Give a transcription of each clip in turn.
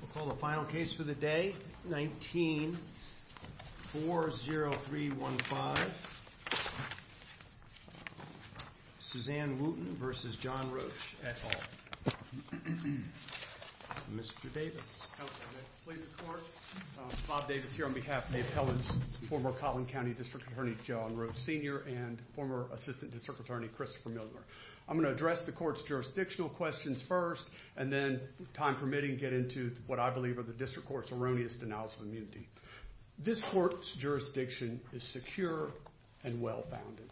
We'll call the final case for the day, 19-40315, Suzanne Wooten v. John Roach, et al. Mr. Davis. I'm going to plead the court. Bob Davis here on behalf of the appellants, former Collin County District Attorney John Roach Sr. and former Assistant District Attorney Christopher Milner. I'm going to address the court's jurisdictional questions first and then, time permitting, get into what I believe are the district court's erroneous denials of immunity. This court's jurisdiction is secure and well-founded.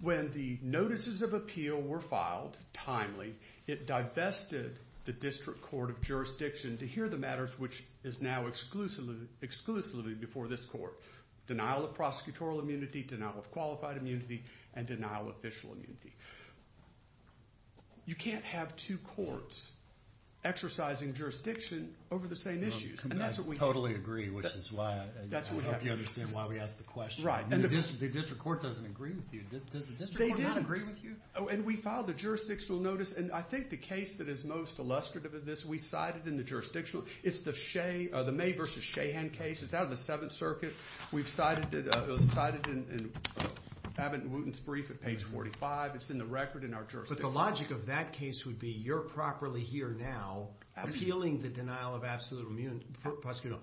When the notices of appeal were filed timely, it divested the district court of jurisdiction to hear the matters which is now exclusively before this court, denial of prosecutorial immunity, denial of qualified immunity, and denial of official immunity. You can't have two courts exercising jurisdiction over the same issues. I totally agree, which is why I hope you understand why we asked the question. Right. The district court doesn't agree with you. Does the district court not agree with you? They didn't. And we filed the jurisdictional notice, and I think the case that is most illustrative of this, we cited in the jurisdictional, it's the May v. Shahan case. It's out of the Seventh Circuit. We've cited it. It was cited in Abbott and Wooten's brief at page 45. It's in the record in our jurisdiction. But the logic of that case would be you're properly here now appealing the denial of absolute prosecutorial immunity.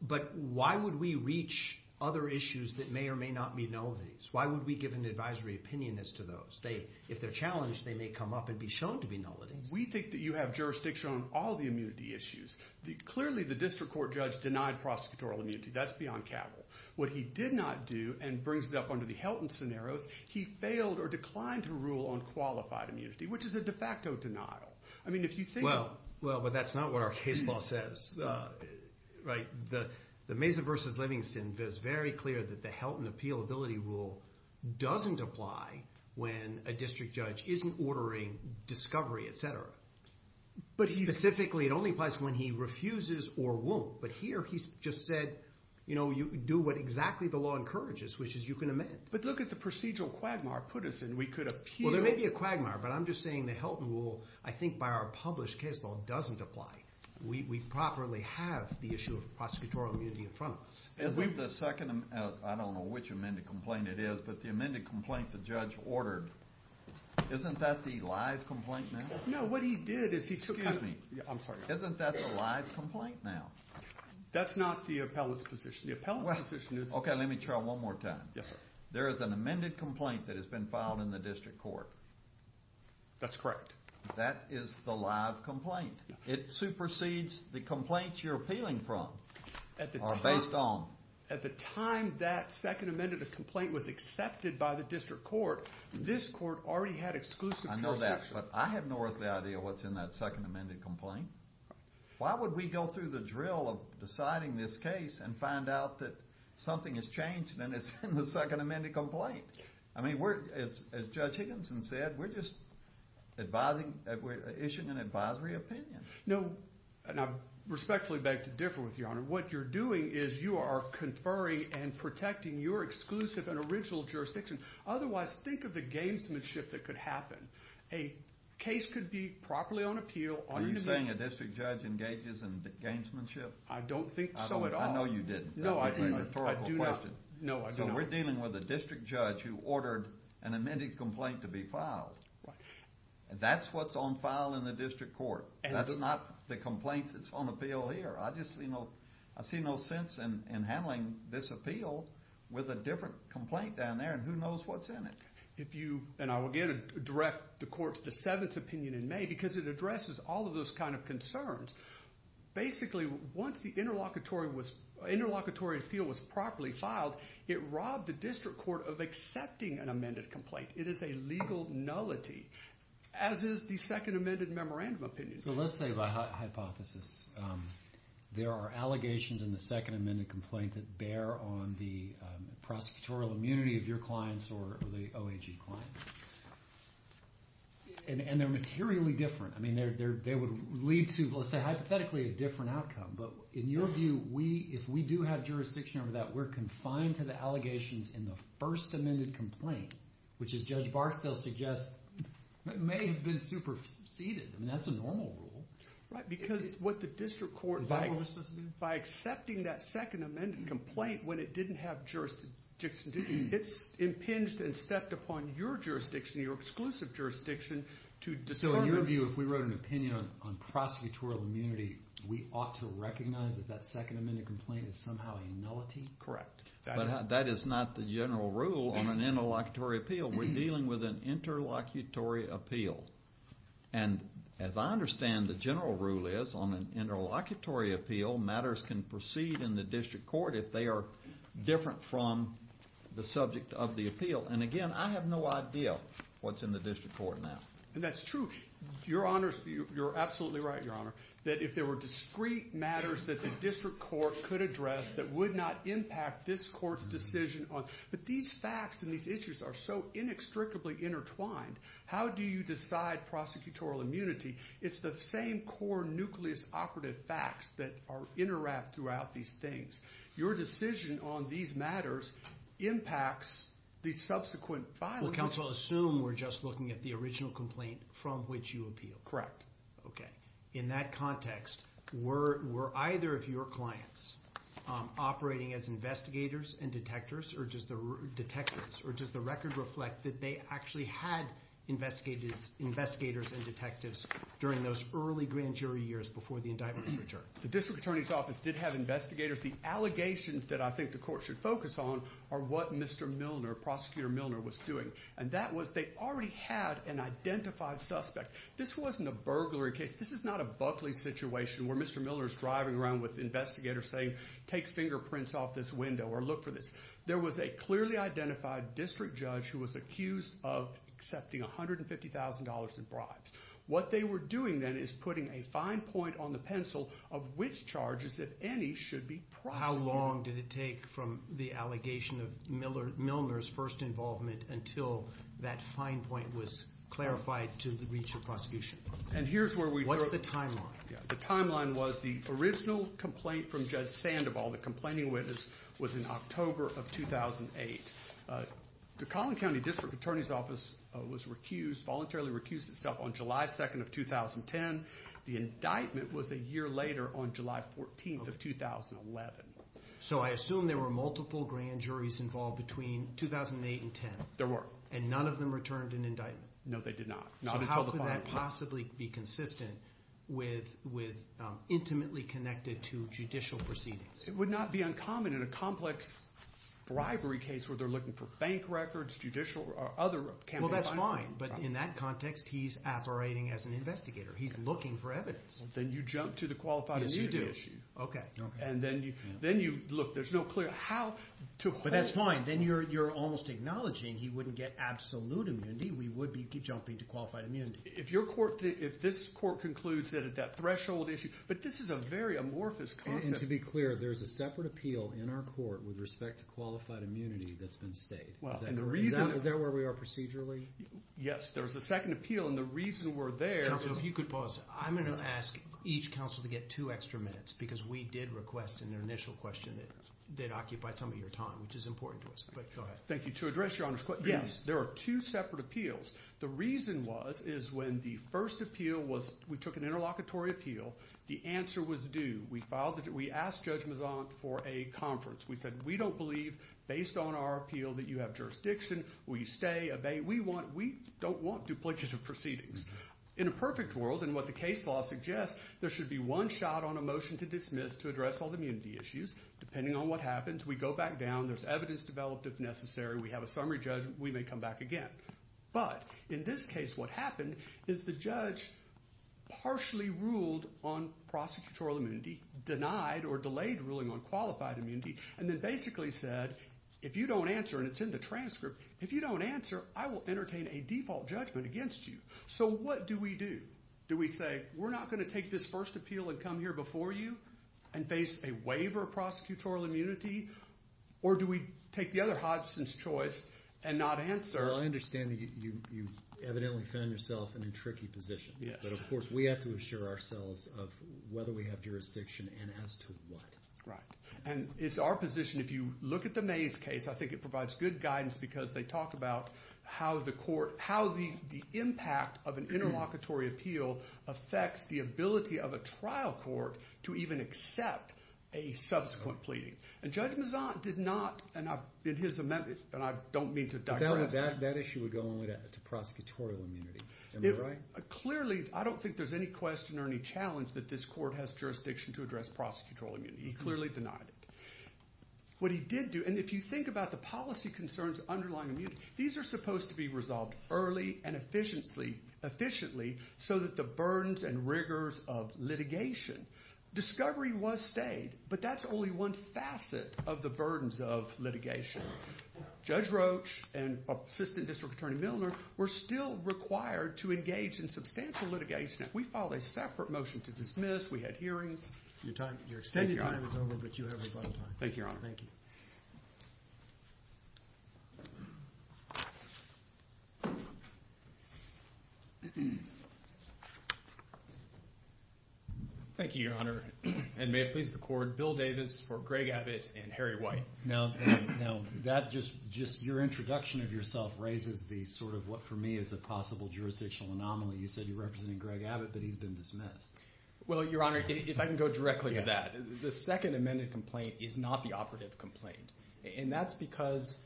But why would we reach other issues that may or may not be nullities? Why would we give an advisory opinion as to those? If they're challenged, they may come up and be shown to be nullities. We think that you have jurisdiction on all the immunity issues. Clearly, the district court judge denied prosecutorial immunity. That's beyond capital. What he did not do, and brings it up under the Helton scenarios, he failed or declined to rule on qualified immunity, which is a de facto denial. I mean, if you think about it. Well, but that's not what our case law says, right? The Mesa v. Livingston is very clear that the Helton appealability rule doesn't apply when a district judge isn't ordering discovery, etc. Specifically, it only applies when he refuses or won't. But here, he just said, you know, you do what exactly the law encourages, which is you can amend. But look at the procedural quagmire put us in. We could appeal. Well, there may be a quagmire, but I'm just saying the Helton rule, I think by our published case law, doesn't apply. We properly have the issue of prosecutorial immunity in front of us. Isn't the second, I don't know which amended complaint it is, but the amended complaint the judge ordered, isn't that the live complaint now? No, what he did is he took. Excuse me. I'm sorry. Isn't that the live complaint now? That's not the appellant's position. The appellant's position is. Okay, let me try one more time. Yes, sir. There is an amended complaint that has been filed in the district court. That's correct. That is the live complaint. It supersedes the complaints you're appealing from. At the time. Or based on. At the time that second amended complaint was accepted by the district court, this court already had exclusive jurisdiction. I know that, but I have no earthly idea what's in that second amended complaint. Why would we go through the drill of deciding this case and find out that something has changed and it's in the second amended complaint? I mean, we're, as Judge Higginson said, we're just advising, issuing an advisory opinion. No, and I respectfully beg to differ with you, your honor. What you're doing is you are conferring and protecting your exclusive and original jurisdiction. Otherwise, think of the gamesmanship that could happen. A case could be properly on appeal. Are you saying a district judge engages in gamesmanship? I don't think so at all. I know you didn't. No, I do not. That was a rhetorical question. No, I do not. So we're dealing with a district judge who ordered an amended complaint to be filed. That's what's on file in the district court. That's not the complaint that's on appeal here. I just see no sense in handling this appeal with a different complaint down there, and who knows what's in it. If you, and I will again direct the court to the seventh opinion in May, because it addresses all of those kind of concerns. Basically, once the interlocutory appeal was properly filed, it robbed the district court of accepting an amended complaint. It is a legal nullity, as is the second amended memorandum opinion. So let's say, by hypothesis, there are allegations in the second amended complaint that bear on the prosecutorial immunity of your clients or the OAG clients. And they're materially different. I mean, they would lead to, let's say hypothetically, a different outcome. But in your view, if we do have jurisdiction over that, we're confined to the allegations in the first amended complaint, which, as Judge Barstow suggests, may have been superseded. I mean, that's a normal rule. Right, because what the district court, by accepting that second amended complaint when it didn't have jurisdiction, it's impinged and stepped upon your jurisdiction, your exclusive jurisdiction, to discern. So in your view, if we wrote an opinion on prosecutorial immunity, we ought to recognize that that second amended complaint is somehow a nullity? Correct. But that is not the general rule on an interlocutory appeal. We're dealing with an interlocutory appeal. And as I understand the general rule is, on an interlocutory appeal, matters can proceed in the district court if they are different from the subject of the appeal. And again, I have no idea what's in the district court now. And that's true. Your Honors, you're absolutely right, Your Honor, that if there were discrete matters that the district court could address that would not impact this court's decision on. But these facts and these issues are so inextricably intertwined. How do you decide prosecutorial immunity? It's the same core nucleus operative facts that are interwrapped throughout these things. Your decision on these matters impacts the subsequent filing. Well, counsel, assume we're just looking at the original complaint from which you appeal. Correct. Okay. In that context, were either of your clients operating as investigators and detectives, or does the record reflect that they actually had investigators and detectives during those early grand jury years before the indictment was returned? The district attorney's office did have investigators. The allegations that I think the court should focus on are what Mr. Milner, Prosecutor Milner, was doing. And that was they already had an identified suspect. This wasn't a burglary case. This is not a Buckley situation where Mr. Milner is driving around with investigators saying, take fingerprints off this window or look for this. There was a clearly identified district judge who was accused of accepting $150,000 in bribes. What they were doing then is putting a fine point on the pencil of which charges, if any, should be prosecuted. So how long did it take from the allegation of Milner's first involvement until that fine point was clarified to the reach of prosecution? What's the timeline? The timeline was the original complaint from Judge Sandoval, the complaining witness, was in October of 2008. The Collin County District Attorney's Office was recused, voluntarily recused itself on July 2nd of 2010. The indictment was a year later on July 14th of 2011. So I assume there were multiple grand juries involved between 2008 and 2010. There were. And none of them returned an indictment? No, they did not. So how could that possibly be consistent with intimately connected to judicial proceedings? It would not be uncommon in a complex bribery case where they're looking for bank records, judicial or other. Well, that's fine. But in that context, he's operating as an investigator. He's looking for evidence. Then you jump to the qualified immunity issue. Yes, you do. Okay. And then you look. There's no clear how to hold. But that's fine. Then you're almost acknowledging he wouldn't get absolute immunity. We would be jumping to qualified immunity. If your court, if this court concludes that at that threshold issue. But this is a very amorphous concept. And to be clear, there's a separate appeal in our court with respect to qualified immunity that's been stayed. Is that where we are procedurally? Yes. There's a second appeal. And the reason we're there. Counsel, if you could pause. I'm going to ask each counsel to get two extra minutes. Because we did request in their initial question that they'd occupy some of your time, which is important to us. But go ahead. Thank you. To address your honor's question, yes, there are two separate appeals. The reason was is when the first appeal was we took an interlocutory appeal. The answer was due. We filed it. We asked Judge Mazant for a conference. We said we don't believe, based on our appeal, that you have jurisdiction. Will you stay? Obey? We don't want duplicative proceedings. In a perfect world, and what the case law suggests, there should be one shot on a motion to dismiss to address all the immunity issues. Depending on what happens, we go back down. There's evidence developed if necessary. We have a summary judgment. We may come back again. But in this case, what happened is the judge partially ruled on prosecutorial immunity, denied or delayed ruling on qualified immunity, and then basically said, if you don't answer, and it's in the transcript, if you don't answer, I will entertain a default judgment against you. So what do we do? Do we say, we're not going to take this first appeal and come here before you and face a waiver of prosecutorial immunity? Or do we take the other Hodgson's choice and not answer? Well, I understand that you evidently found yourself in a tricky position. But of course, we have to assure ourselves of whether we have jurisdiction and as to what. Right. And it's our position, if you look at the Mays case, I think it provides good guidance because they talk about how the court, how the impact of an interlocutory appeal affects the ability of a trial court to even accept a subsequent pleading. And Judge Mezant did not, in his amendment, and I don't mean to digress. That issue would go only to prosecutorial immunity. Am I right? Clearly, I don't think there's any question or any challenge that this court has jurisdiction to address prosecutorial immunity. He clearly denied it. What he did do, and if you think about the policy concerns underlying immunity, these are supposed to be resolved early and efficiently so that the burdens and rigors of litigation, discovery was stayed. But that's only one facet of the burdens of litigation. Judge Roach and Assistant District Attorney Milner were still required to engage in substantial litigation. We filed a separate motion to dismiss. We had hearings. Your extended time is over, but you have your final time. Thank you, Your Honor. Thank you, Your Honor. And may it please the court, Bill Davis for Greg Abbott and Harry White. Now, that just your introduction of yourself raises the sort of what, for me, is a possible jurisdictional anomaly. You said you're representing Greg Abbott, but he's been dismissed. Well, Your Honor, if I can go directly to that, the second amended complaint is not the operative complaint, and that's because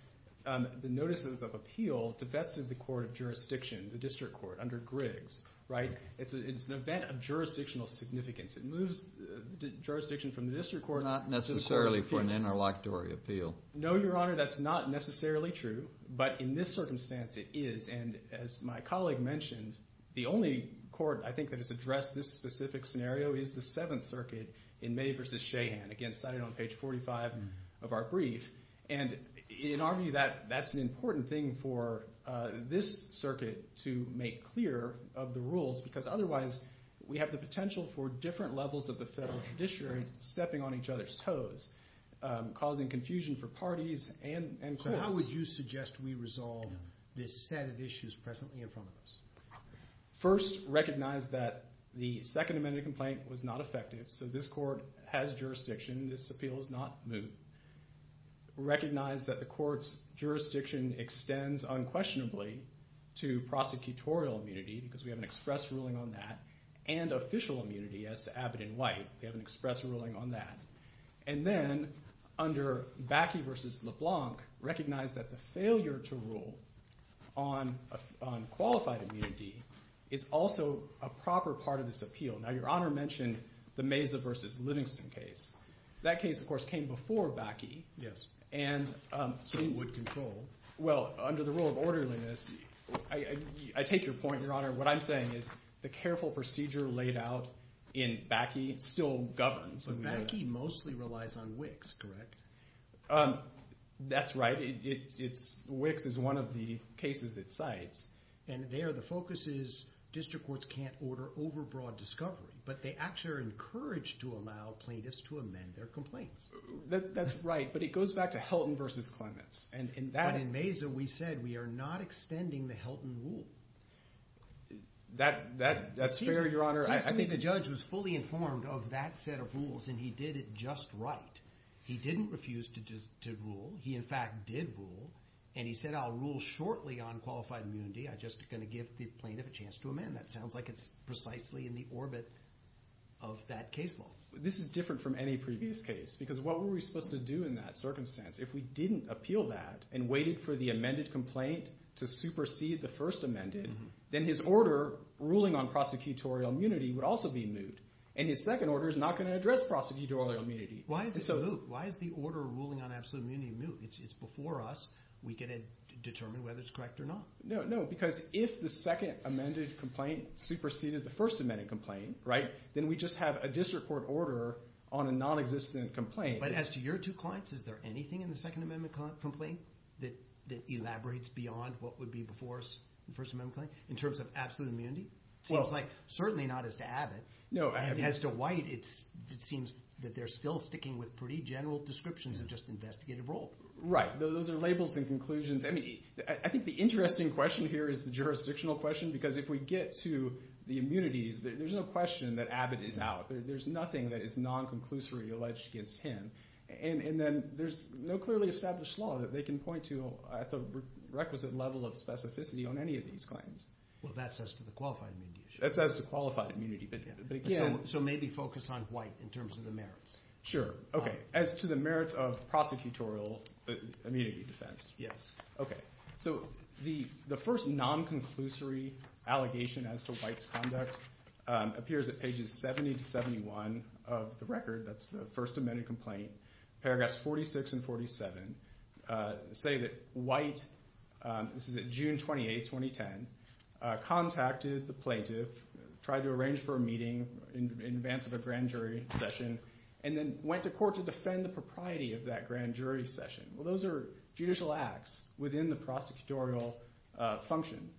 the notices of appeal divested the court of jurisdiction, the district court, under Griggs, right? It's an event of jurisdictional significance. It moves the jurisdiction from the district court. Not necessarily for an interlocutory appeal. No, Your Honor, that's not necessarily true, but in this circumstance it is. And as my colleague mentioned, the only court, I think, that has addressed this specific scenario is the Seventh Circuit in May v. Shahan. Again, cited on page 45 of our brief. And in our view, that's an important thing for this circuit to make clear of the rules because otherwise we have the potential for different levels of the federal judiciary stepping on each other's toes, causing confusion for parties and courts. So how would you suggest we resolve this set of issues presently in front of us? First, recognize that the second amended complaint was not effective, so this court has jurisdiction. This appeal is not moot. Recognize that the court's jurisdiction extends unquestionably to prosecutorial immunity because we have an express ruling on that and official immunity as to Abbott & White. We have an express ruling on that. And then under Bakke v. LeBlanc, recognize that the failure to rule on qualified immunity is also a proper part of this appeal. Now, Your Honor mentioned the Mesa v. Livingston case. That case, of course, came before Bakke. Yes. And so it would control. Well, under the rule of orderliness, I take your point, Your Honor. What I'm saying is the careful procedure laid out in Bakke still governs. But Bakke mostly relies on Wicks, correct? That's right. Wicks is one of the cases it cites. And there the focus is district courts can't order overbroad discovery, but they actually are encouraged to allow plaintiffs to amend their complaints. That's right, but it goes back to Helton v. Clements. But in Mesa we said we are not extending the Helton rule. That's fair, Your Honor. It seems to me the judge was fully informed of that set of rules, and he did it just right. He didn't refuse to rule. He, in fact, did rule, and he said, I'll rule shortly on qualified immunity. I'm just going to give the plaintiff a chance to amend. That sounds like it's precisely in the orbit of that case law. This is different from any previous case because what were we supposed to do in that circumstance? If we didn't appeal that and waited for the amended complaint to supersede the first amended, then his order ruling on prosecutorial immunity would also be moot, and his second order is not going to address prosecutorial immunity. Why is it moot? Why is the order ruling on absolute immunity moot? It's before us. We get to determine whether it's correct or not. No, because if the second amended complaint superseded the first amended complaint, then we just have a district court order on a nonexistent complaint. But as to your two clients, is there anything in the second amended complaint that elaborates beyond what would be before us the first amended complaint in terms of absolute immunity? It seems like certainly not as to Abbott. As to White, it seems that they're still sticking with pretty general descriptions of just investigative rule. Right. Those are labels and conclusions. I think the interesting question here is the jurisdictional question because if we get to the immunities, there's no question that Abbott is out. There's nothing that is non-conclusory alleged against him, and then there's no clearly established law that they can point to at the requisite level of specificity on any of these claims. Well, that's as to the qualified immunity issue. That's as to qualified immunity. So maybe focus on White in terms of the merits. Sure. Okay. As to the merits of prosecutorial immunity defense. Yes. Okay. So the first non-conclusory allegation as to White's conduct appears at pages 70 to 71 of the record. That's the first amended complaint. Paragraphs 46 and 47 say that White, this is at June 28, 2010, contacted the plaintiff, tried to arrange for a meeting in advance of a grand jury session, and then went to court to defend the propriety of that grand jury session. Well, those are judicial acts within the prosecutorial function.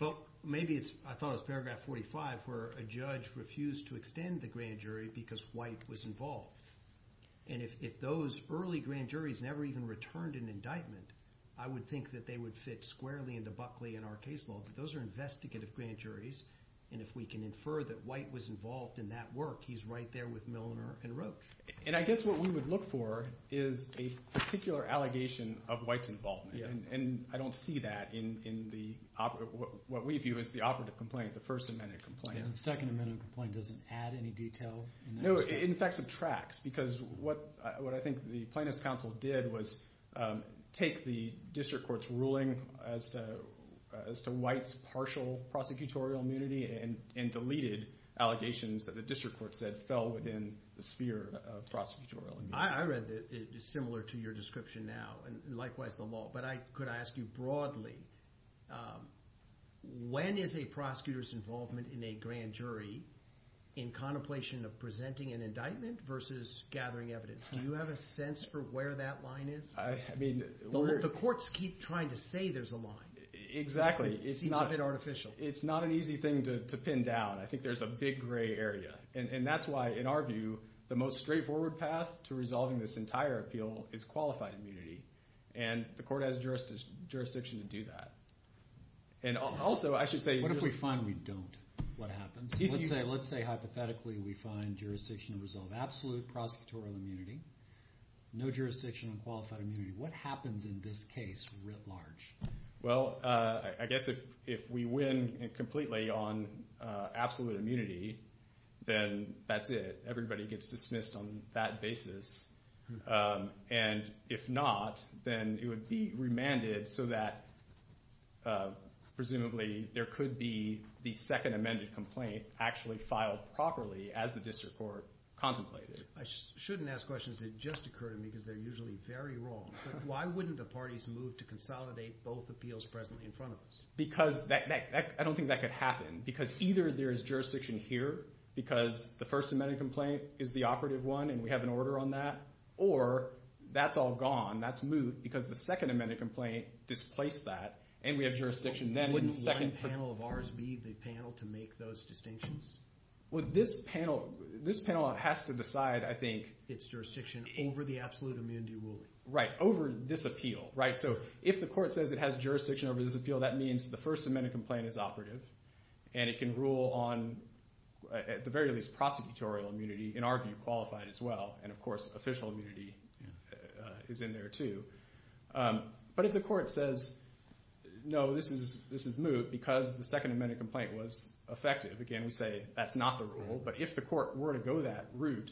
Well, maybe I thought it was paragraph 45 where a judge refused to extend the grand jury because White was involved. And if those early grand juries never even returned an indictment, I would think that they would fit squarely into Buckley in our case law. But those are investigative grand juries, and if we can infer that White was involved in that work, he's right there with Milner and Roach. And I guess what we would look for is a particular allegation of White's involvement, and I don't see that in what we view as the operative complaint, the first amended complaint. The second amended complaint doesn't add any detail. No, it in fact subtracts because what I think the plaintiff's counsel did was take the district court's ruling as to White's partial prosecutorial immunity and deleted allegations that the district court said fell within the sphere of prosecutorial immunity. I read that it's similar to your description now, and likewise the law, but I could ask you broadly, when is a prosecutor's involvement in a grand jury in contemplation of presenting an indictment versus gathering evidence? Do you have a sense for where that line is? The courts keep trying to say there's a line. Exactly. It seems a bit artificial. It's not an easy thing to pin down. I think there's a big gray area, and that's why, in our view, the most straightforward path to resolving this entire appeal is qualified immunity, and the court has jurisdiction to do that. And also I should say- What if we find we don't? What happens? Let's say hypothetically we find jurisdiction to resolve absolute prosecutorial immunity, no jurisdiction on qualified immunity. What happens in this case writ large? Well, I guess if we win completely on absolute immunity, then that's it. Everybody gets dismissed on that basis. And if not, then it would be remanded so that presumably there could be the second amended complaint actually filed properly as the district court contemplated. I shouldn't ask questions that just occur to me because they're usually very wrong. Why wouldn't the parties move to consolidate both appeals presently in front of us? Because I don't think that could happen because either there is jurisdiction here because the first amended complaint is the operative one and we have an order on that, or that's all gone, that's moot, because the second amended complaint displaced that and we have jurisdiction then. Wouldn't one panel of ours be the panel to make those distinctions? Well, this panel has to decide, I think- Its jurisdiction over the absolute immunity ruling. Right, over this appeal. So if the court says it has jurisdiction over this appeal, that means the first amended complaint is operative and it can rule on at the very least prosecutorial immunity and argue qualified as well. And, of course, official immunity is in there too. But if the court says, no, this is moot because the second amended complaint was effective, again, we say that's not the rule, but if the court were to go that route,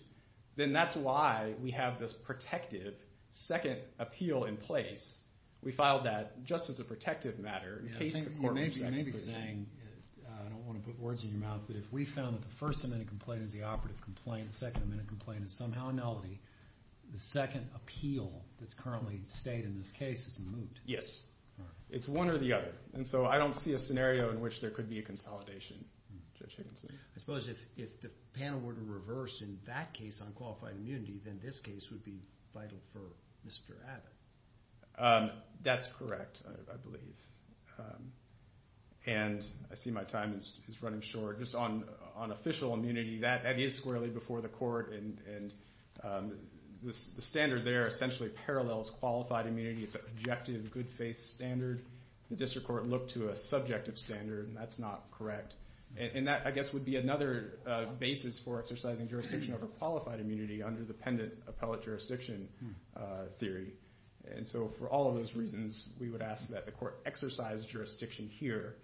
then that's why we have this protective second appeal in place. We filed that just as a protective matter in case the court rejected it. You may be saying, I don't want to put words in your mouth, but if we found that the first amended complaint is the operative complaint, the second amended complaint is somehow a nullity, the second appeal that's currently stayed in this case is moot. Yes. It's one or the other. And so I don't see a scenario in which there could be a consolidation, Judge Higginson. I suppose if the panel were to reverse in that case on qualified immunity, then this case would be vital for Mr. Abbott. That's correct, I believe. And I see my time is running short. Just on official immunity, that is squarely before the court, and the standard there essentially parallels qualified immunity. It's an objective, good-faith standard. The district court looked to a subjective standard, and that's not correct. And that, I guess, would be another basis for exercising jurisdiction over qualified immunity under the pendant appellate jurisdiction theory. And so for all of those reasons, we would ask that the court exercise jurisdiction here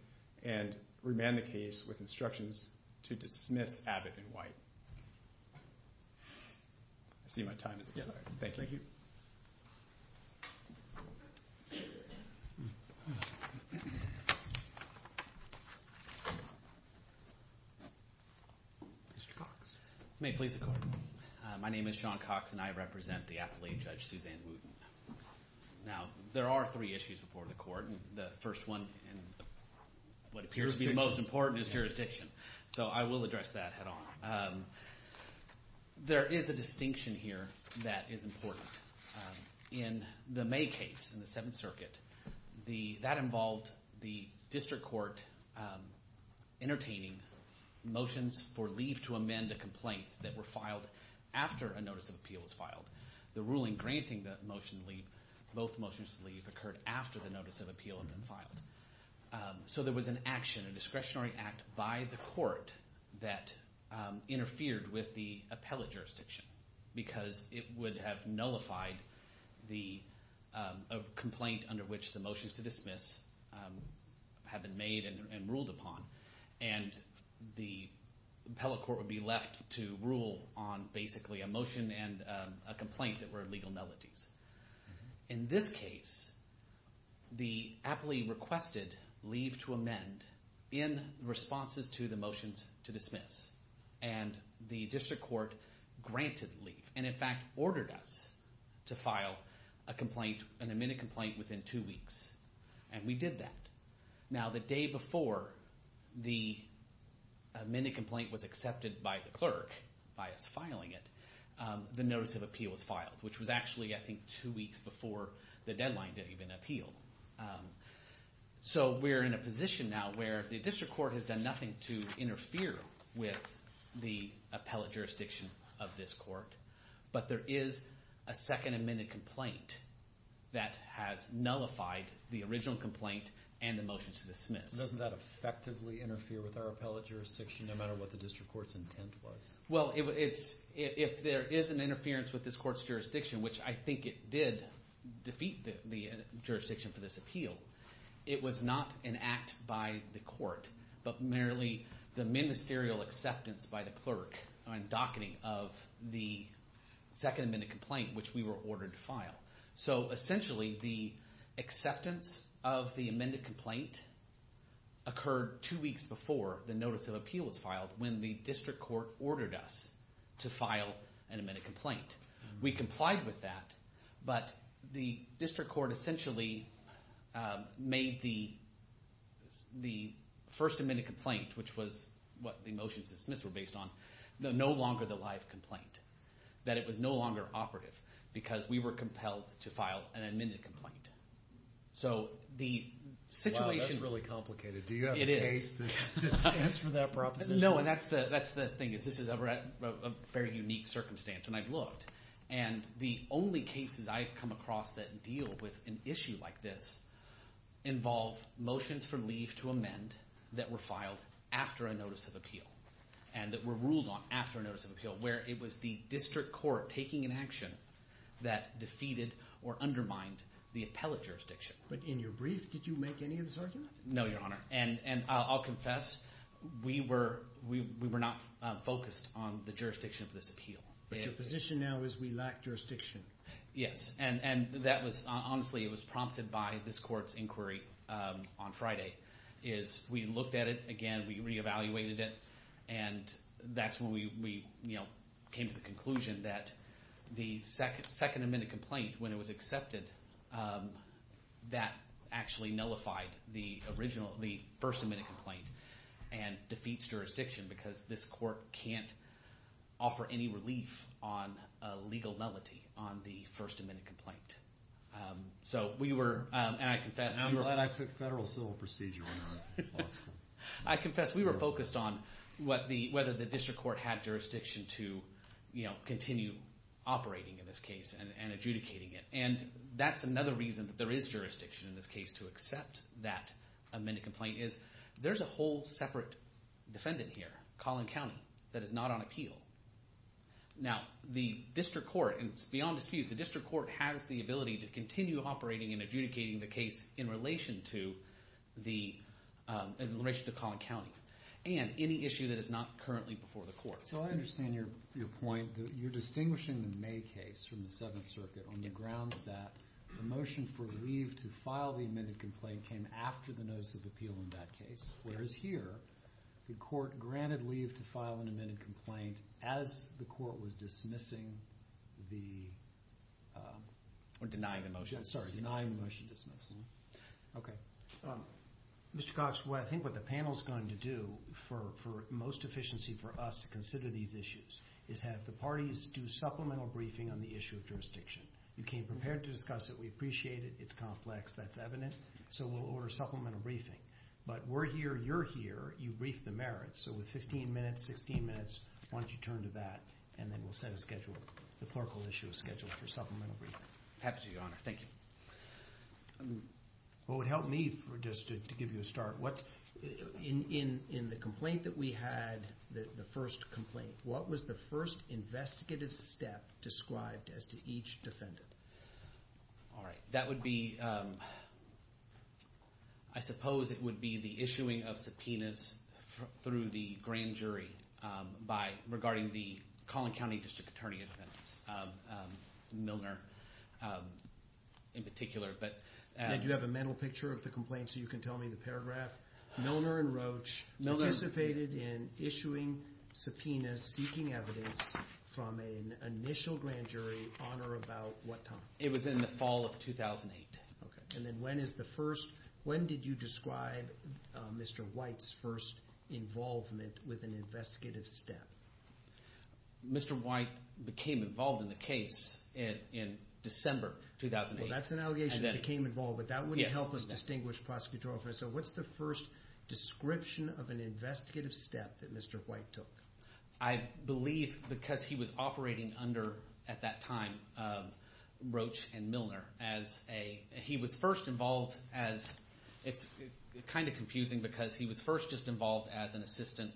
and remand the case with instructions to dismiss Abbott and White. Thank you. Mr. Cox. May it please the Court. My name is Sean Cox, and I represent the appellate, Judge Suzanne Wooten. Now, there are three issues before the court, and the first one and what appears to be the most important is jurisdiction. So I will address that head on. There is a distinction here that is important. In the May case in the Seventh Circuit, that involved the district court entertaining motions for leave to amend a complaint that were filed after a notice of appeal was filed. The ruling granting the motion to leave, both motions to leave, occurred after the notice of appeal had been filed. So there was an action, a discretionary act by the court that interfered with the appellate jurisdiction because it would have nullified the complaint under which the motions to dismiss had been made and ruled upon. And the appellate court would be left to rule on basically a motion and a complaint that were legal nullities. In this case, the appellee requested leave to amend in response to the motions to dismiss, and the district court granted leave, and in fact ordered us to file an amended complaint within two weeks. And we did that. Now, the day before the amended complaint was accepted by the clerk, by us filing it, the notice of appeal was filed, which was actually, I think, two weeks before the deadline to even appeal. So we're in a position now where the district court has done nothing to interfere with the appellate jurisdiction of this court, but there is a second amended complaint that has nullified the original complaint and the motions to dismiss. Doesn't that effectively interfere with our appellate jurisdiction, no matter what the district court's intent was? Well, if there is an interference with this court's jurisdiction, which I think it did defeat the jurisdiction for this appeal, it was not an act by the court but merely the ministerial acceptance by the clerk on docketing of the second amended complaint, which we were ordered to file. So essentially, the acceptance of the amended complaint occurred two weeks before the notice of appeal was filed when the district court ordered us to file an amended complaint. We complied with that, but the district court essentially made the first amended complaint, which was what the motions dismissed were based on, no longer the live complaint, that it was no longer operative because we were compelled to file an amended complaint. Wow, that's really complicated. Do you have a case that stands for that proposition? No, and that's the thing is this is a very unique circumstance, and I've looked, and the only cases I've come across that deal with an issue like this involve motions for leave to amend that were filed after a notice of appeal and that were ruled on after a notice of appeal, where it was the district court taking an action that defeated or undermined the appellate jurisdiction. But in your brief, did you make any of this argument? No, Your Honor, and I'll confess we were not focused on the jurisdiction of this appeal. But your position now is we lack jurisdiction. Yes, and honestly, it was prompted by this court's inquiry on Friday is we looked at it again. We re-evaluated it, and that's when we came to the conclusion that the second amended complaint, when it was accepted, that actually nullified the original, the first amended complaint and defeats jurisdiction because this court can't offer any relief on a legal nullity on the first amended complaint. So we were, and I confess. I'm glad I took federal civil procedure on that. I confess we were focused on whether the district court had jurisdiction to continue operating in this case and adjudicating it, and that's another reason that there is jurisdiction in this case to accept that amended complaint is there's a whole separate defendant here, Collin County, that is not on appeal. Now, the district court, and it's beyond dispute, the district court has the ability to continue operating and adjudicating the case in relation to Collin County and any issue that is not currently before the court. So I understand your point. You're distinguishing the May case from the Seventh Circuit on the grounds that the motion for leave to file the amended complaint came after the notice of appeal in that case, whereas here the court granted leave to file an amended complaint as the court was dismissing the Or denying the motion. Sorry, denying the motion dismissal. Okay. Mr. Cox, what I think what the panel's going to do for most efficiency for us to consider these issues is have the parties do supplemental briefing on the issue of jurisdiction. You came prepared to discuss it. We appreciate it. It's complex. That's evident. So we'll order supplemental briefing. But we're here, you're here, you brief the merits. So with 15 minutes, 16 minutes, why don't you turn to that, and then we'll set a schedule. The clerical issue is scheduled for supplemental briefing. Happy to, Your Honor. Thank you. What would help me, just to give you a start, in the complaint that we had, the first complaint, what was the first investigative step described as to each defendant? All right. That would be, I suppose it would be the issuing of subpoenas through the grand jury by, regarding the Collin County District Attorney's offense, Milner, in particular. And do you have a mental picture of the complaint so you can tell me the paragraph? Milner and Roach participated in issuing subpoenas seeking evidence from an initial grand jury on or about what time? It was in the fall of 2008. Okay. And then when is the first, when did you describe Mr. White's first involvement with an investigative step? Mr. White became involved in the case in December 2008. Well, that's an allegation that he became involved, but that wouldn't help us distinguish prosecutorial offense. So what's the first description of an investigative step that Mr. White took? I believe because he was operating under, at that time, Roach and Milner as a, he was first involved as, it's kind of confusing because he was first just involved as an assistant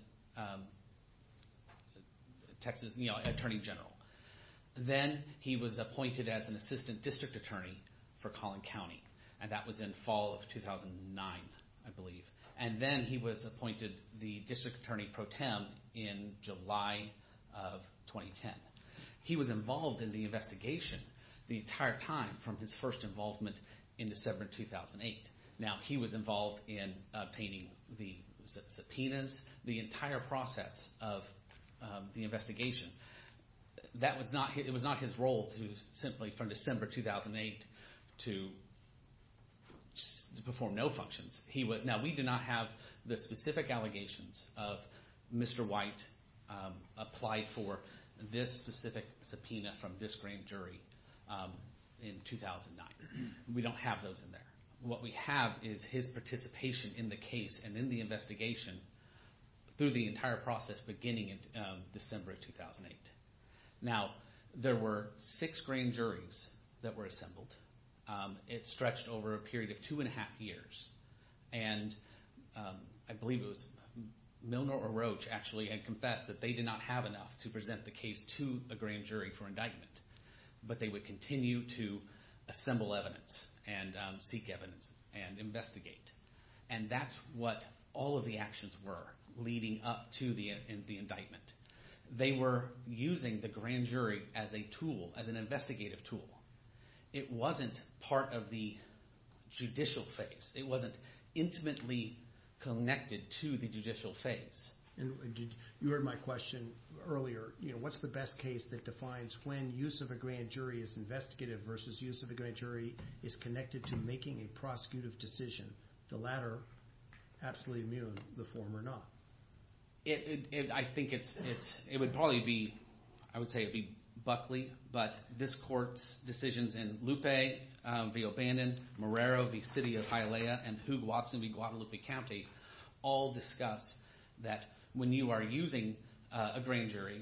Texas Attorney General. Then he was appointed as an assistant district attorney for Collin County, and that was in fall of 2009, I believe. And then he was appointed the district attorney pro tem in July of 2010. He was involved in the investigation the entire time from his first involvement in December 2008. Now, he was involved in obtaining the subpoenas, the entire process of the investigation. That was not, it was not his role to simply, from December 2008, to perform no functions. He was, now we do not have the specific allegations of Mr. White applied for this specific subpoena from this grand jury in 2009. We don't have those in there. What we have is his participation in the case and in the investigation through the entire process beginning in December 2008. Now, there were six grand juries that were assembled. It stretched over a period of two and a half years. And I believe it was Milner or Roach actually had confessed that they did not have enough to present the case to a grand jury for indictment. But they would continue to assemble evidence and seek evidence and investigate. And that's what all of the actions were leading up to the indictment. They were using the grand jury as a tool, as an investigative tool. It wasn't part of the judicial phase. It wasn't intimately connected to the judicial phase. And you heard my question earlier. What's the best case that defines when use of a grand jury is investigative versus use of a grand jury is connected to making a prosecutive decision? The latter absolutely immune, the former not. I think it's – it would probably be – I would say it would be Buckley. But this court's decisions in Lupe v. O'Bannon, Marrero v. City of Hialeah, and Hoog Watson v. Guadalupe County all discuss that when you are using a grand jury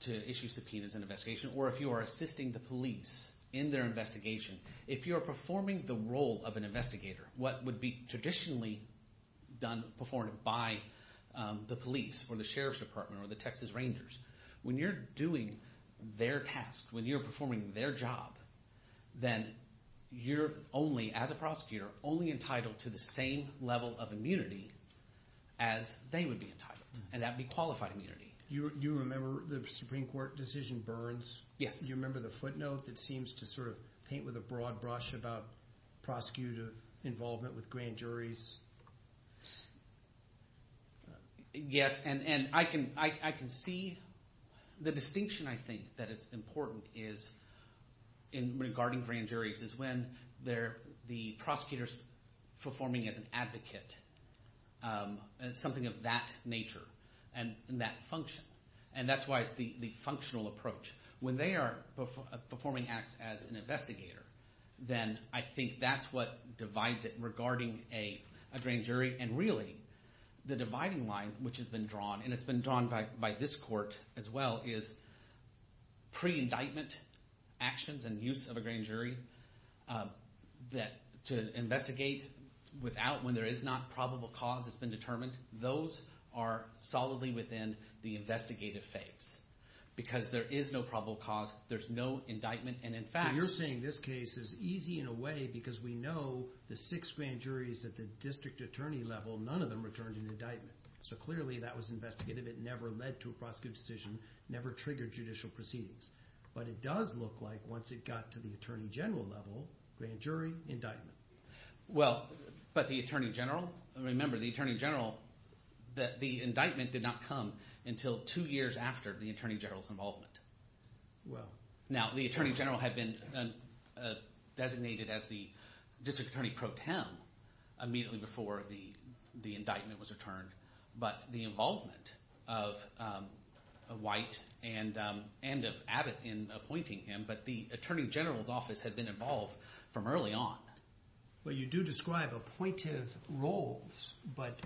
to issue subpoenas in an investigation or if you are assisting the police in their investigation, if you are performing the role of an investigator, what would be traditionally done – performed by the police or the sheriff's department or the Texas Rangers. When you're doing their task, when you're performing their job, then you're only, as a prosecutor, only entitled to the same level of immunity as they would be entitled, and that would be qualified immunity. Do you remember the Supreme Court decision Burns? Yes. Do you remember the footnote that seems to sort of paint with a broad brush about prosecutive involvement with grand juries? Yes. And I can see – the distinction I think that is important is – regarding grand juries is when they're – the prosecutor's performing as an advocate, something of that nature and that function. And that's why it's the functional approach. When they are performing acts as an investigator, then I think that's what divides it regarding a grand jury. And really, the dividing line, which has been drawn, and it's been drawn by this court as well, is pre-indictment actions and use of a grand jury that – to investigate without – when there is not probable cause that's been determined. Those are solidly within the investigative phase because there is no probable cause. There's no indictment, and in fact – So you're saying this case is easy in a way because we know the six grand juries at the district attorney level, none of them returned an indictment. So clearly, that was investigative. It never led to a prosecutive decision, never triggered judicial proceedings. But it does look like once it got to the attorney general level, grand jury, indictment. Well, but the attorney general – remember, the attorney general – the indictment did not come until two years after the attorney general's involvement. Now, the attorney general had been designated as the district attorney pro tem immediately before the indictment was returned. But the involvement of White and of Abbott in appointing him, but the attorney general's office had been involved from early on. Well, you do describe appointive roles, but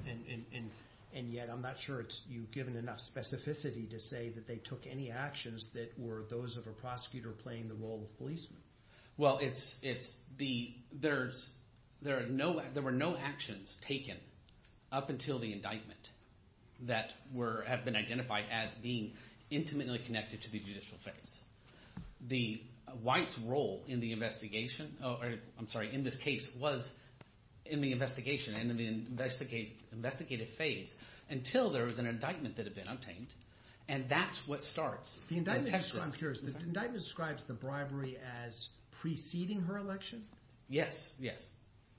– and yet I'm not sure you've given enough specificity to say that they took any actions that were those of a prosecutor playing the role of policeman. Well, it's the – there are no – there were no actions taken up until the indictment that were – have been identified as being intimately connected to the judicial phase. The – White's role in the investigation – I'm sorry, in this case was in the investigation and in the investigative phase until there was an indictment that had been obtained, and that's what starts. The indictment – I'm curious. The indictment describes the bribery as preceding her election? Yes, yes.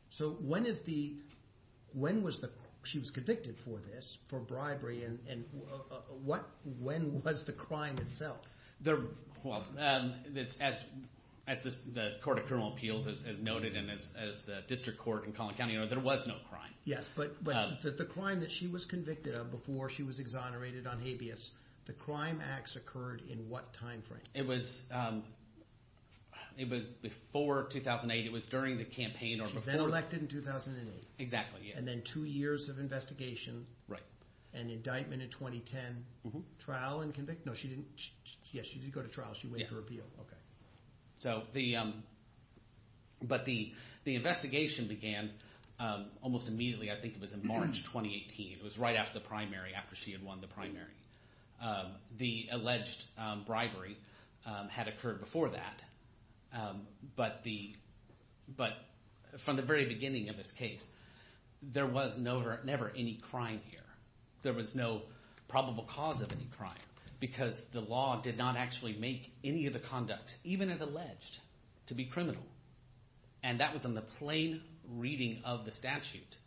So when is the – when was the – she was convicted for this, for bribery, and what – when was the crime itself? Well, it's – as the court of criminal appeals has noted and as the district court in Collin County noted, there was no crime. Yes, but the crime that she was convicted of before she was exonerated on habeas, the crime acts occurred in what time frame? It was before 2008. It was during the campaign or before – She was then elected in 2008. Exactly, yes. And then two years of investigation. Right. An indictment in 2010. Trial and convict – no, she didn't – yes, she did go to trial. She waited for appeal. Yes. So the – but the investigation began almost immediately. I think it was in March 2018. It was right after the primary, after she had won the primary. The alleged bribery had occurred before that, but the – but from the very beginning of this case, there was never any crime here. There was no probable cause of any crime because the law did not actually make any of the conduct, even as alleged, to be criminal. And that was in the plain reading of the statute.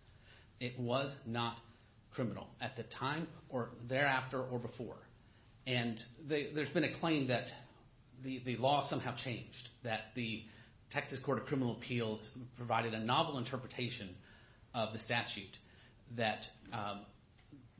It was not criminal at the time or thereafter or before. And there's been a claim that the law somehow changed, that the Texas Court of Criminal Appeals provided a novel interpretation of the statute that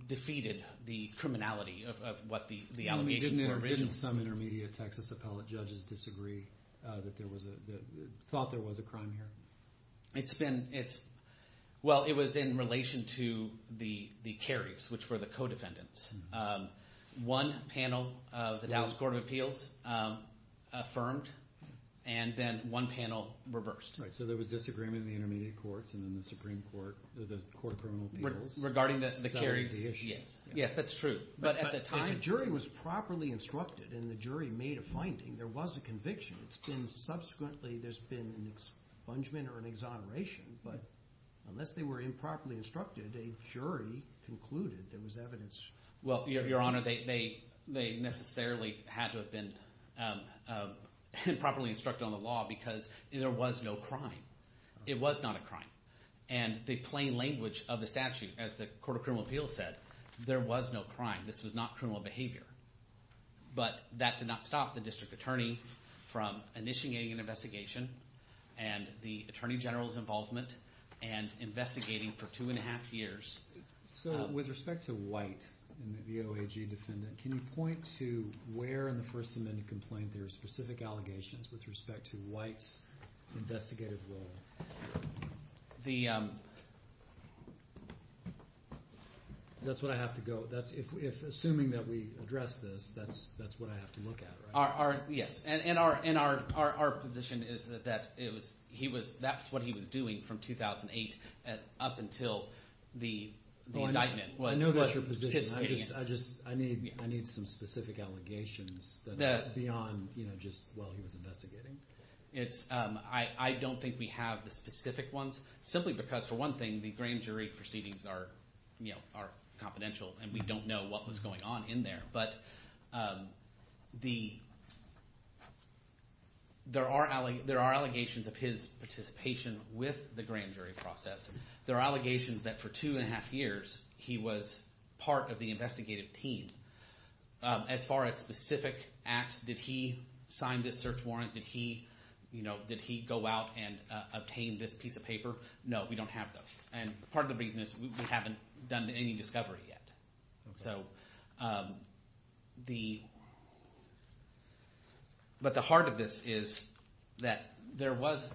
defeated the criminality of what the allegations were originally. Didn't some intermediate Texas appellate judges disagree that there was a – thought there was a crime here? It's been – it's – well, it was in relation to the Kerrigs, which were the co-defendants. One panel of the Dallas Court of Appeals affirmed, and then one panel reversed. So there was disagreement in the intermediate courts and then the Supreme Court – the court of criminal appeals. Regarding the Kerrigs, yes. Yes, that's true. But at the time – And the jury made a finding. There was a conviction. It's been subsequently – there's been an expungement or an exoneration. But unless they were improperly instructed, a jury concluded there was evidence. Well, Your Honor, they necessarily had to have been improperly instructed on the law because there was no crime. It was not a crime. And the plain language of the statute, as the court of criminal appeals said, there was no crime. This was not criminal behavior. But that did not stop the district attorney from initiating an investigation and the attorney general's involvement and investigating for two and a half years. So with respect to White and the VOAG defendant, can you point to where in the First Amendment complaint there are specific allegations with respect to White's investigative role? The – That's what I have to go – if assuming that we address this, that's what I have to look at, right? Yes. And our position is that it was – he was – that's what he was doing from 2008 up until the indictment. I know that's your position. I just – I need some specific allegations beyond just while he was investigating. It's – I don't think we have the specific ones simply because, for one thing, the grand jury proceedings are confidential and we don't know what was going on in there. But the – there are allegations of his participation with the grand jury process. There are allegations that for two and a half years he was part of the investigative team. As far as specific acts, did he sign this search warrant? Did he go out and obtain this piece of paper? No, we don't have those. And part of the reason is we haven't done any discovery yet. So the – but the heart of this is that there was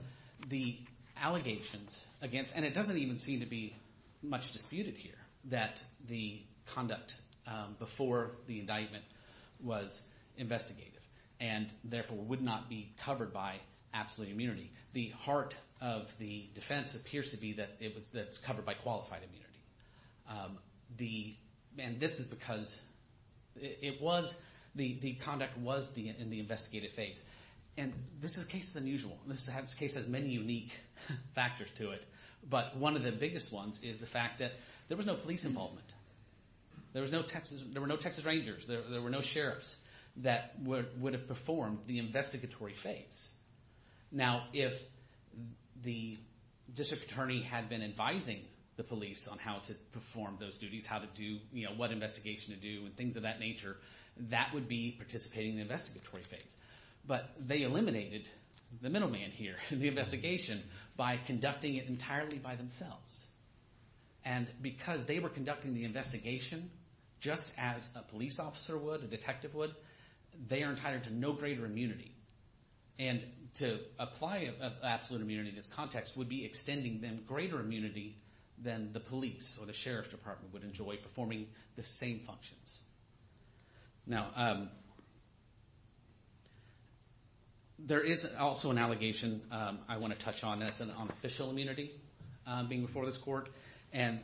the allegations against – and it doesn't even seem to be much disputed here that the conduct before the indictment was investigative and therefore would not be covered by absolute immunity. The heart of the defense appears to be that it was – that it's covered by qualified immunity. The – and this is because it was – the conduct was in the investigative phase. And this is a case that's unusual. This case has many unique factors to it. But one of the biggest ones is the fact that there was no police involvement. There was no Texas – there were no Texas Rangers. There were no sheriffs that would have performed the investigatory phase. Now, if the district attorney had been advising the police on how to perform those duties, how to do – what investigation to do and things of that nature, that would be participating in the investigatory phase. But they eliminated the middleman here in the investigation by conducting it entirely by themselves. And because they were conducting the investigation just as a police officer would, a detective would, they are entitled to no greater immunity. And to apply absolute immunity in this context would be extending them greater immunity than the police or the sheriff's department would enjoy performing the same functions. Now, there is also an allegation I want to touch on. That's an unofficial immunity being before this court. And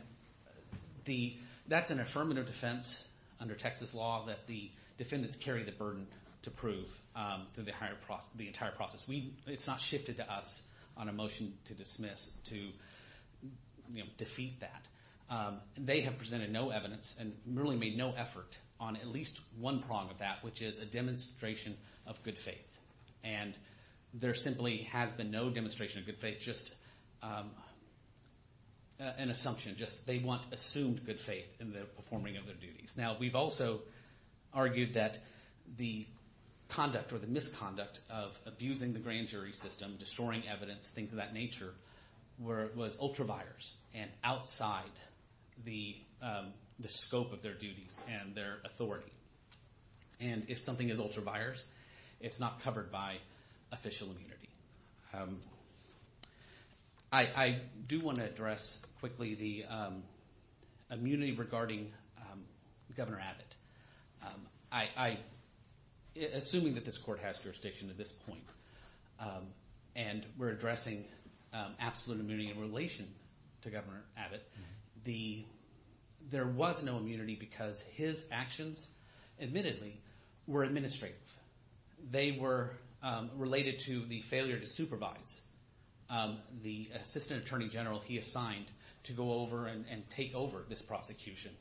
the – that's an affirmative defense under Texas law that the defendants carry the burden to prove through the entire process. We – it's not shifted to us on a motion to dismiss, to defeat that. They have presented no evidence and really made no effort on at least one prong of that, which is a demonstration of good faith. And there simply has been no demonstration of good faith, just an assumption, just they want assumed good faith in the performing of their duties. Now, we've also argued that the conduct or the misconduct of abusing the grand jury system, destroying evidence, things of that nature, was ultra-biased and outside the scope of their duties and their authority. And if something is ultra-biased, it's not covered by official immunity. I do want to address quickly the immunity regarding Governor Abbott. I – assuming that this court has jurisdiction at this point and we're addressing absolute immunity in relation to Governor Abbott, the – there was no immunity because his actions, admittedly, were administrative. They were related to the failure to supervise the assistant attorney general he assigned to go over and take over this prosecution.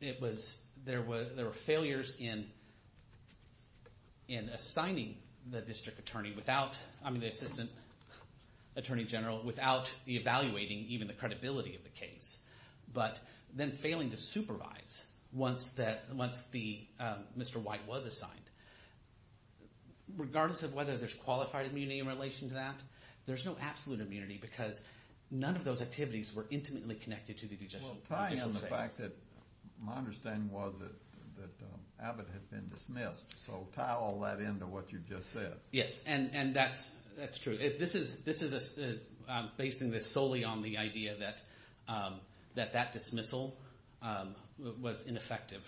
It was – there were failures in assigning the district attorney without – I mean, the assistant attorney general without evaluating even the credibility of the case, but then failing to supervise once the – Mr. White was assigned. Regardless of whether there's qualified immunity in relation to that, there's no absolute immunity because none of those activities were intimately connected to the judicial affairs. So tying in the fact that my understanding was that Abbott had been dismissed, so tie all that into what you just said. Yes, and that's true. This is – I'm basing this solely on the idea that that dismissal was ineffective,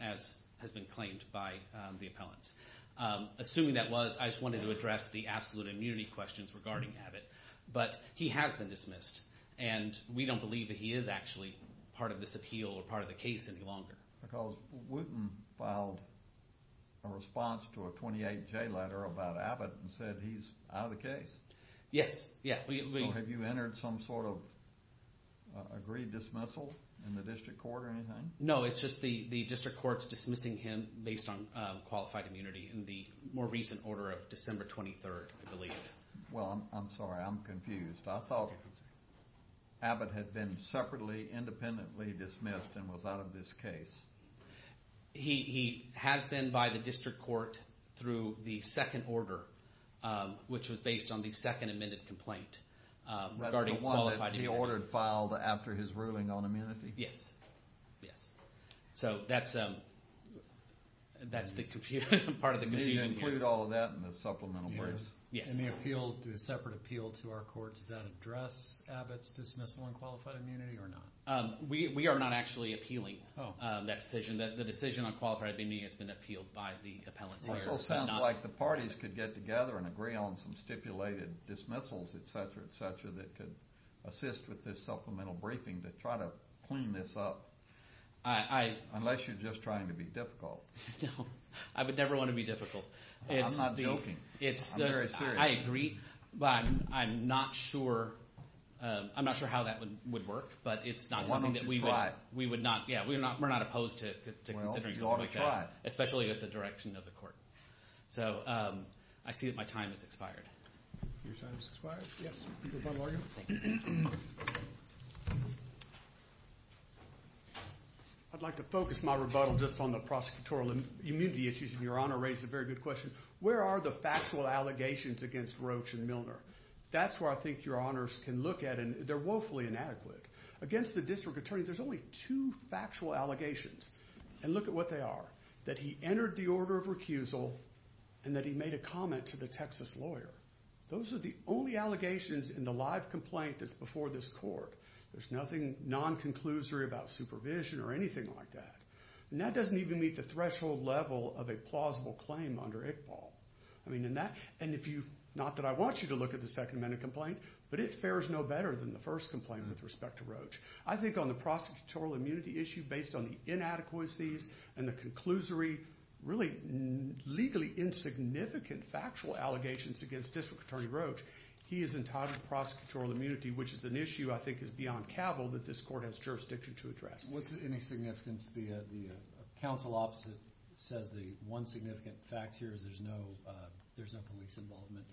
as has been claimed by the appellants. Assuming that was, I just wanted to address the absolute immunity questions regarding Abbott. But he has been dismissed, and we don't believe that he is actually part of this appeal or part of the case any longer. Because Wooten filed a response to a 28-J letter about Abbott and said he's out of the case. Yes, yeah. So have you entered some sort of agreed dismissal in the district court or anything? No, it's just the district court's dismissing him based on qualified immunity in the more recent order of December 23rd, I believe. Well, I'm sorry, I'm confused. I thought Abbott had been separately independently dismissed and was out of this case. He has been by the district court through the second order, which was based on the second amended complaint regarding qualified immunity. That's the one that he ordered filed after his ruling on immunity? Yes, yes. So that's the part of the confusion here. Do you include all of that in the supplemental briefs? Yes. In the separate appeal to our court, does that address Abbott's dismissal on qualified immunity or not? We are not actually appealing that decision. The decision on qualified immunity has been appealed by the appellants here. It also sounds like the parties could get together and agree on some stipulated dismissals, et cetera, et cetera, that could assist with this supplemental briefing to try to clean this up. Unless you're just trying to be difficult. No. I would never want to be difficult. I'm not joking. I'm very serious. I agree. But I'm not sure how that would work. But it's not something that we would. Why don't you try? Yeah, we're not opposed to considering something like that. Well, you ought to try. Especially with the direction of the court. So I see that my time has expired. Your time has expired? Yes. Rebuttal, are you? Thank you. I'd like to focus my rebuttal just on the prosecutorial immunity issues. And Your Honor raised a very good question. Where are the factual allegations against Roach and Milner? That's where I think Your Honors can look at. And they're woefully inadequate. Against the district attorney, there's only two factual allegations. And look at what they are. That he entered the order of recusal and that he made a comment to the Texas lawyer. Those are the only allegations in the live complaint that's before this court. There's nothing non-conclusory about supervision or anything like that. And that doesn't even meet the threshold level of a plausible claim under ICPOL. And if you, not that I want you to look at the Second Amendment complaint, but it fares no better than the first complaint with respect to Roach. I think on the prosecutorial immunity issue, based on the inadequacies and the conclusory, really legally insignificant factual allegations against district attorney Roach, he is entitled to prosecutorial immunity, which is an issue I think is beyond cabal that this court has jurisdiction to address. What's any significance? The counsel opposite says the one significant fact here is there's no police involvement.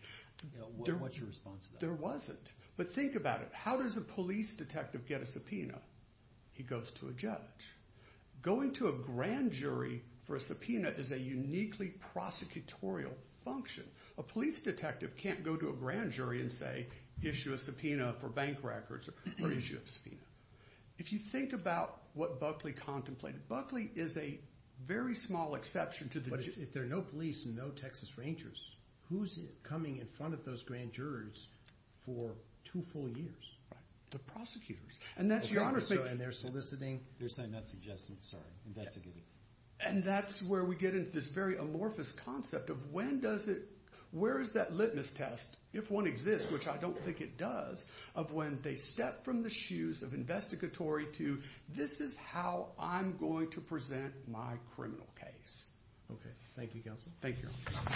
What's your response to that? There wasn't. But think about it. How does a police detective get a subpoena? He goes to a judge. Going to a grand jury for a subpoena is a uniquely prosecutorial function. A police detective can't go to a grand jury and, say, issue a subpoena for bank records or issue a subpoena. If you think about what Buckley contemplated, Buckley is a very small exception to the jury. But if there are no police and no Texas Rangers, who's coming in front of those grand jurors for two full years? The prosecutors. And that's your understanding. And they're soliciting. They're soliciting, not suggesting. Sorry. Investigating. And that's where we get into this very amorphous concept of when does it, where is that litmus test, if one exists, which I don't think it does, of when they step from the shoes of investigatory to, this is how I'm going to present my criminal case. Okay. Thank you, counsel. Thank you. Thank you.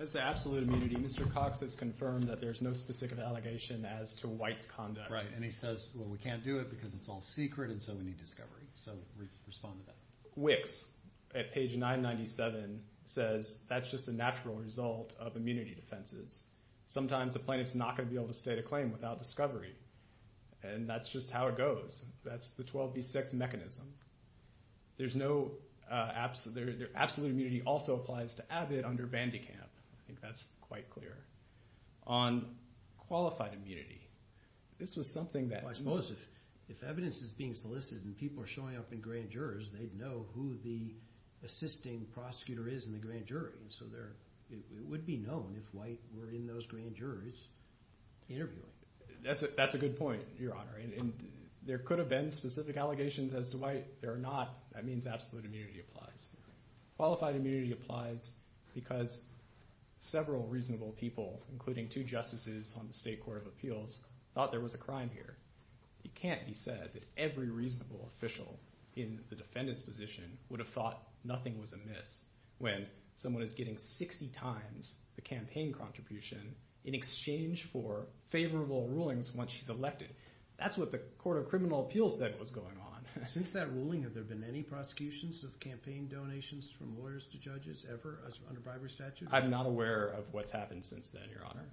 As to absolute immunity, Mr. Cox has confirmed that there's no specific allegation as to White's conduct. Right. And he says, well, we can't do it because it's all secret, and so we need discovery. So respond to that. Wicks, at page 997, says that's just a natural result of immunity defenses. Sometimes a plaintiff's not going to be able to state a claim without discovery, and that's just how it goes. That's the 12B6 mechanism. There's no absolute immunity. Absolute immunity also applies to Abbott under Vandekamp. I think that's quite clear. On qualified immunity, this was something that... Well, I suppose if evidence is being solicited and people are showing up in grand jurors, they'd know who the assisting prosecutor is in the grand jury. So it would be known if White were in those grand juries interviewing. That's a good point, Your Honor. There could have been specific allegations as to White. There are not. That means absolute immunity applies. Qualified immunity applies because several reasonable people, including two justices on the State Court of Appeals, thought there was a crime here. It can't be said that every reasonable official in the defendant's position would have thought nothing was amiss when someone is getting 60 times the campaign contribution in exchange for favorable rulings once she's elected. That's what the Court of Criminal Appeals said was going on. Since that ruling, have there been any prosecutions of campaign donations from lawyers to judges ever under bribery statute? I'm not aware of what's happened since then, Your Honor.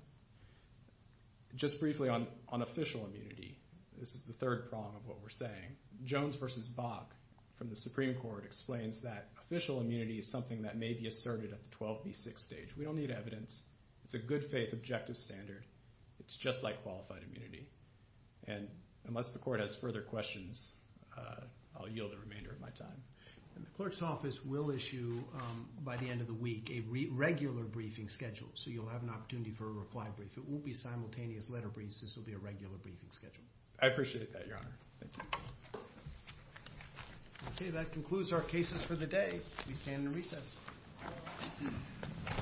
Just briefly on official immunity, this is the third prong of what we're saying. Jones v. Bach from the Supreme Court explains that official immunity is something that may be asserted at the 12B6 stage. We don't need evidence. It's a good-faith objective standard. It's just like qualified immunity. And unless the court has further questions, I'll yield the remainder of my time. The clerk's office will issue, by the end of the week, a regular briefing schedule, so you'll have an opportunity for a reply brief. It won't be simultaneous letter briefs. This will be a regular briefing schedule. I appreciate that, Your Honor. Thank you. Okay, that concludes our cases for the day. We stand in recess.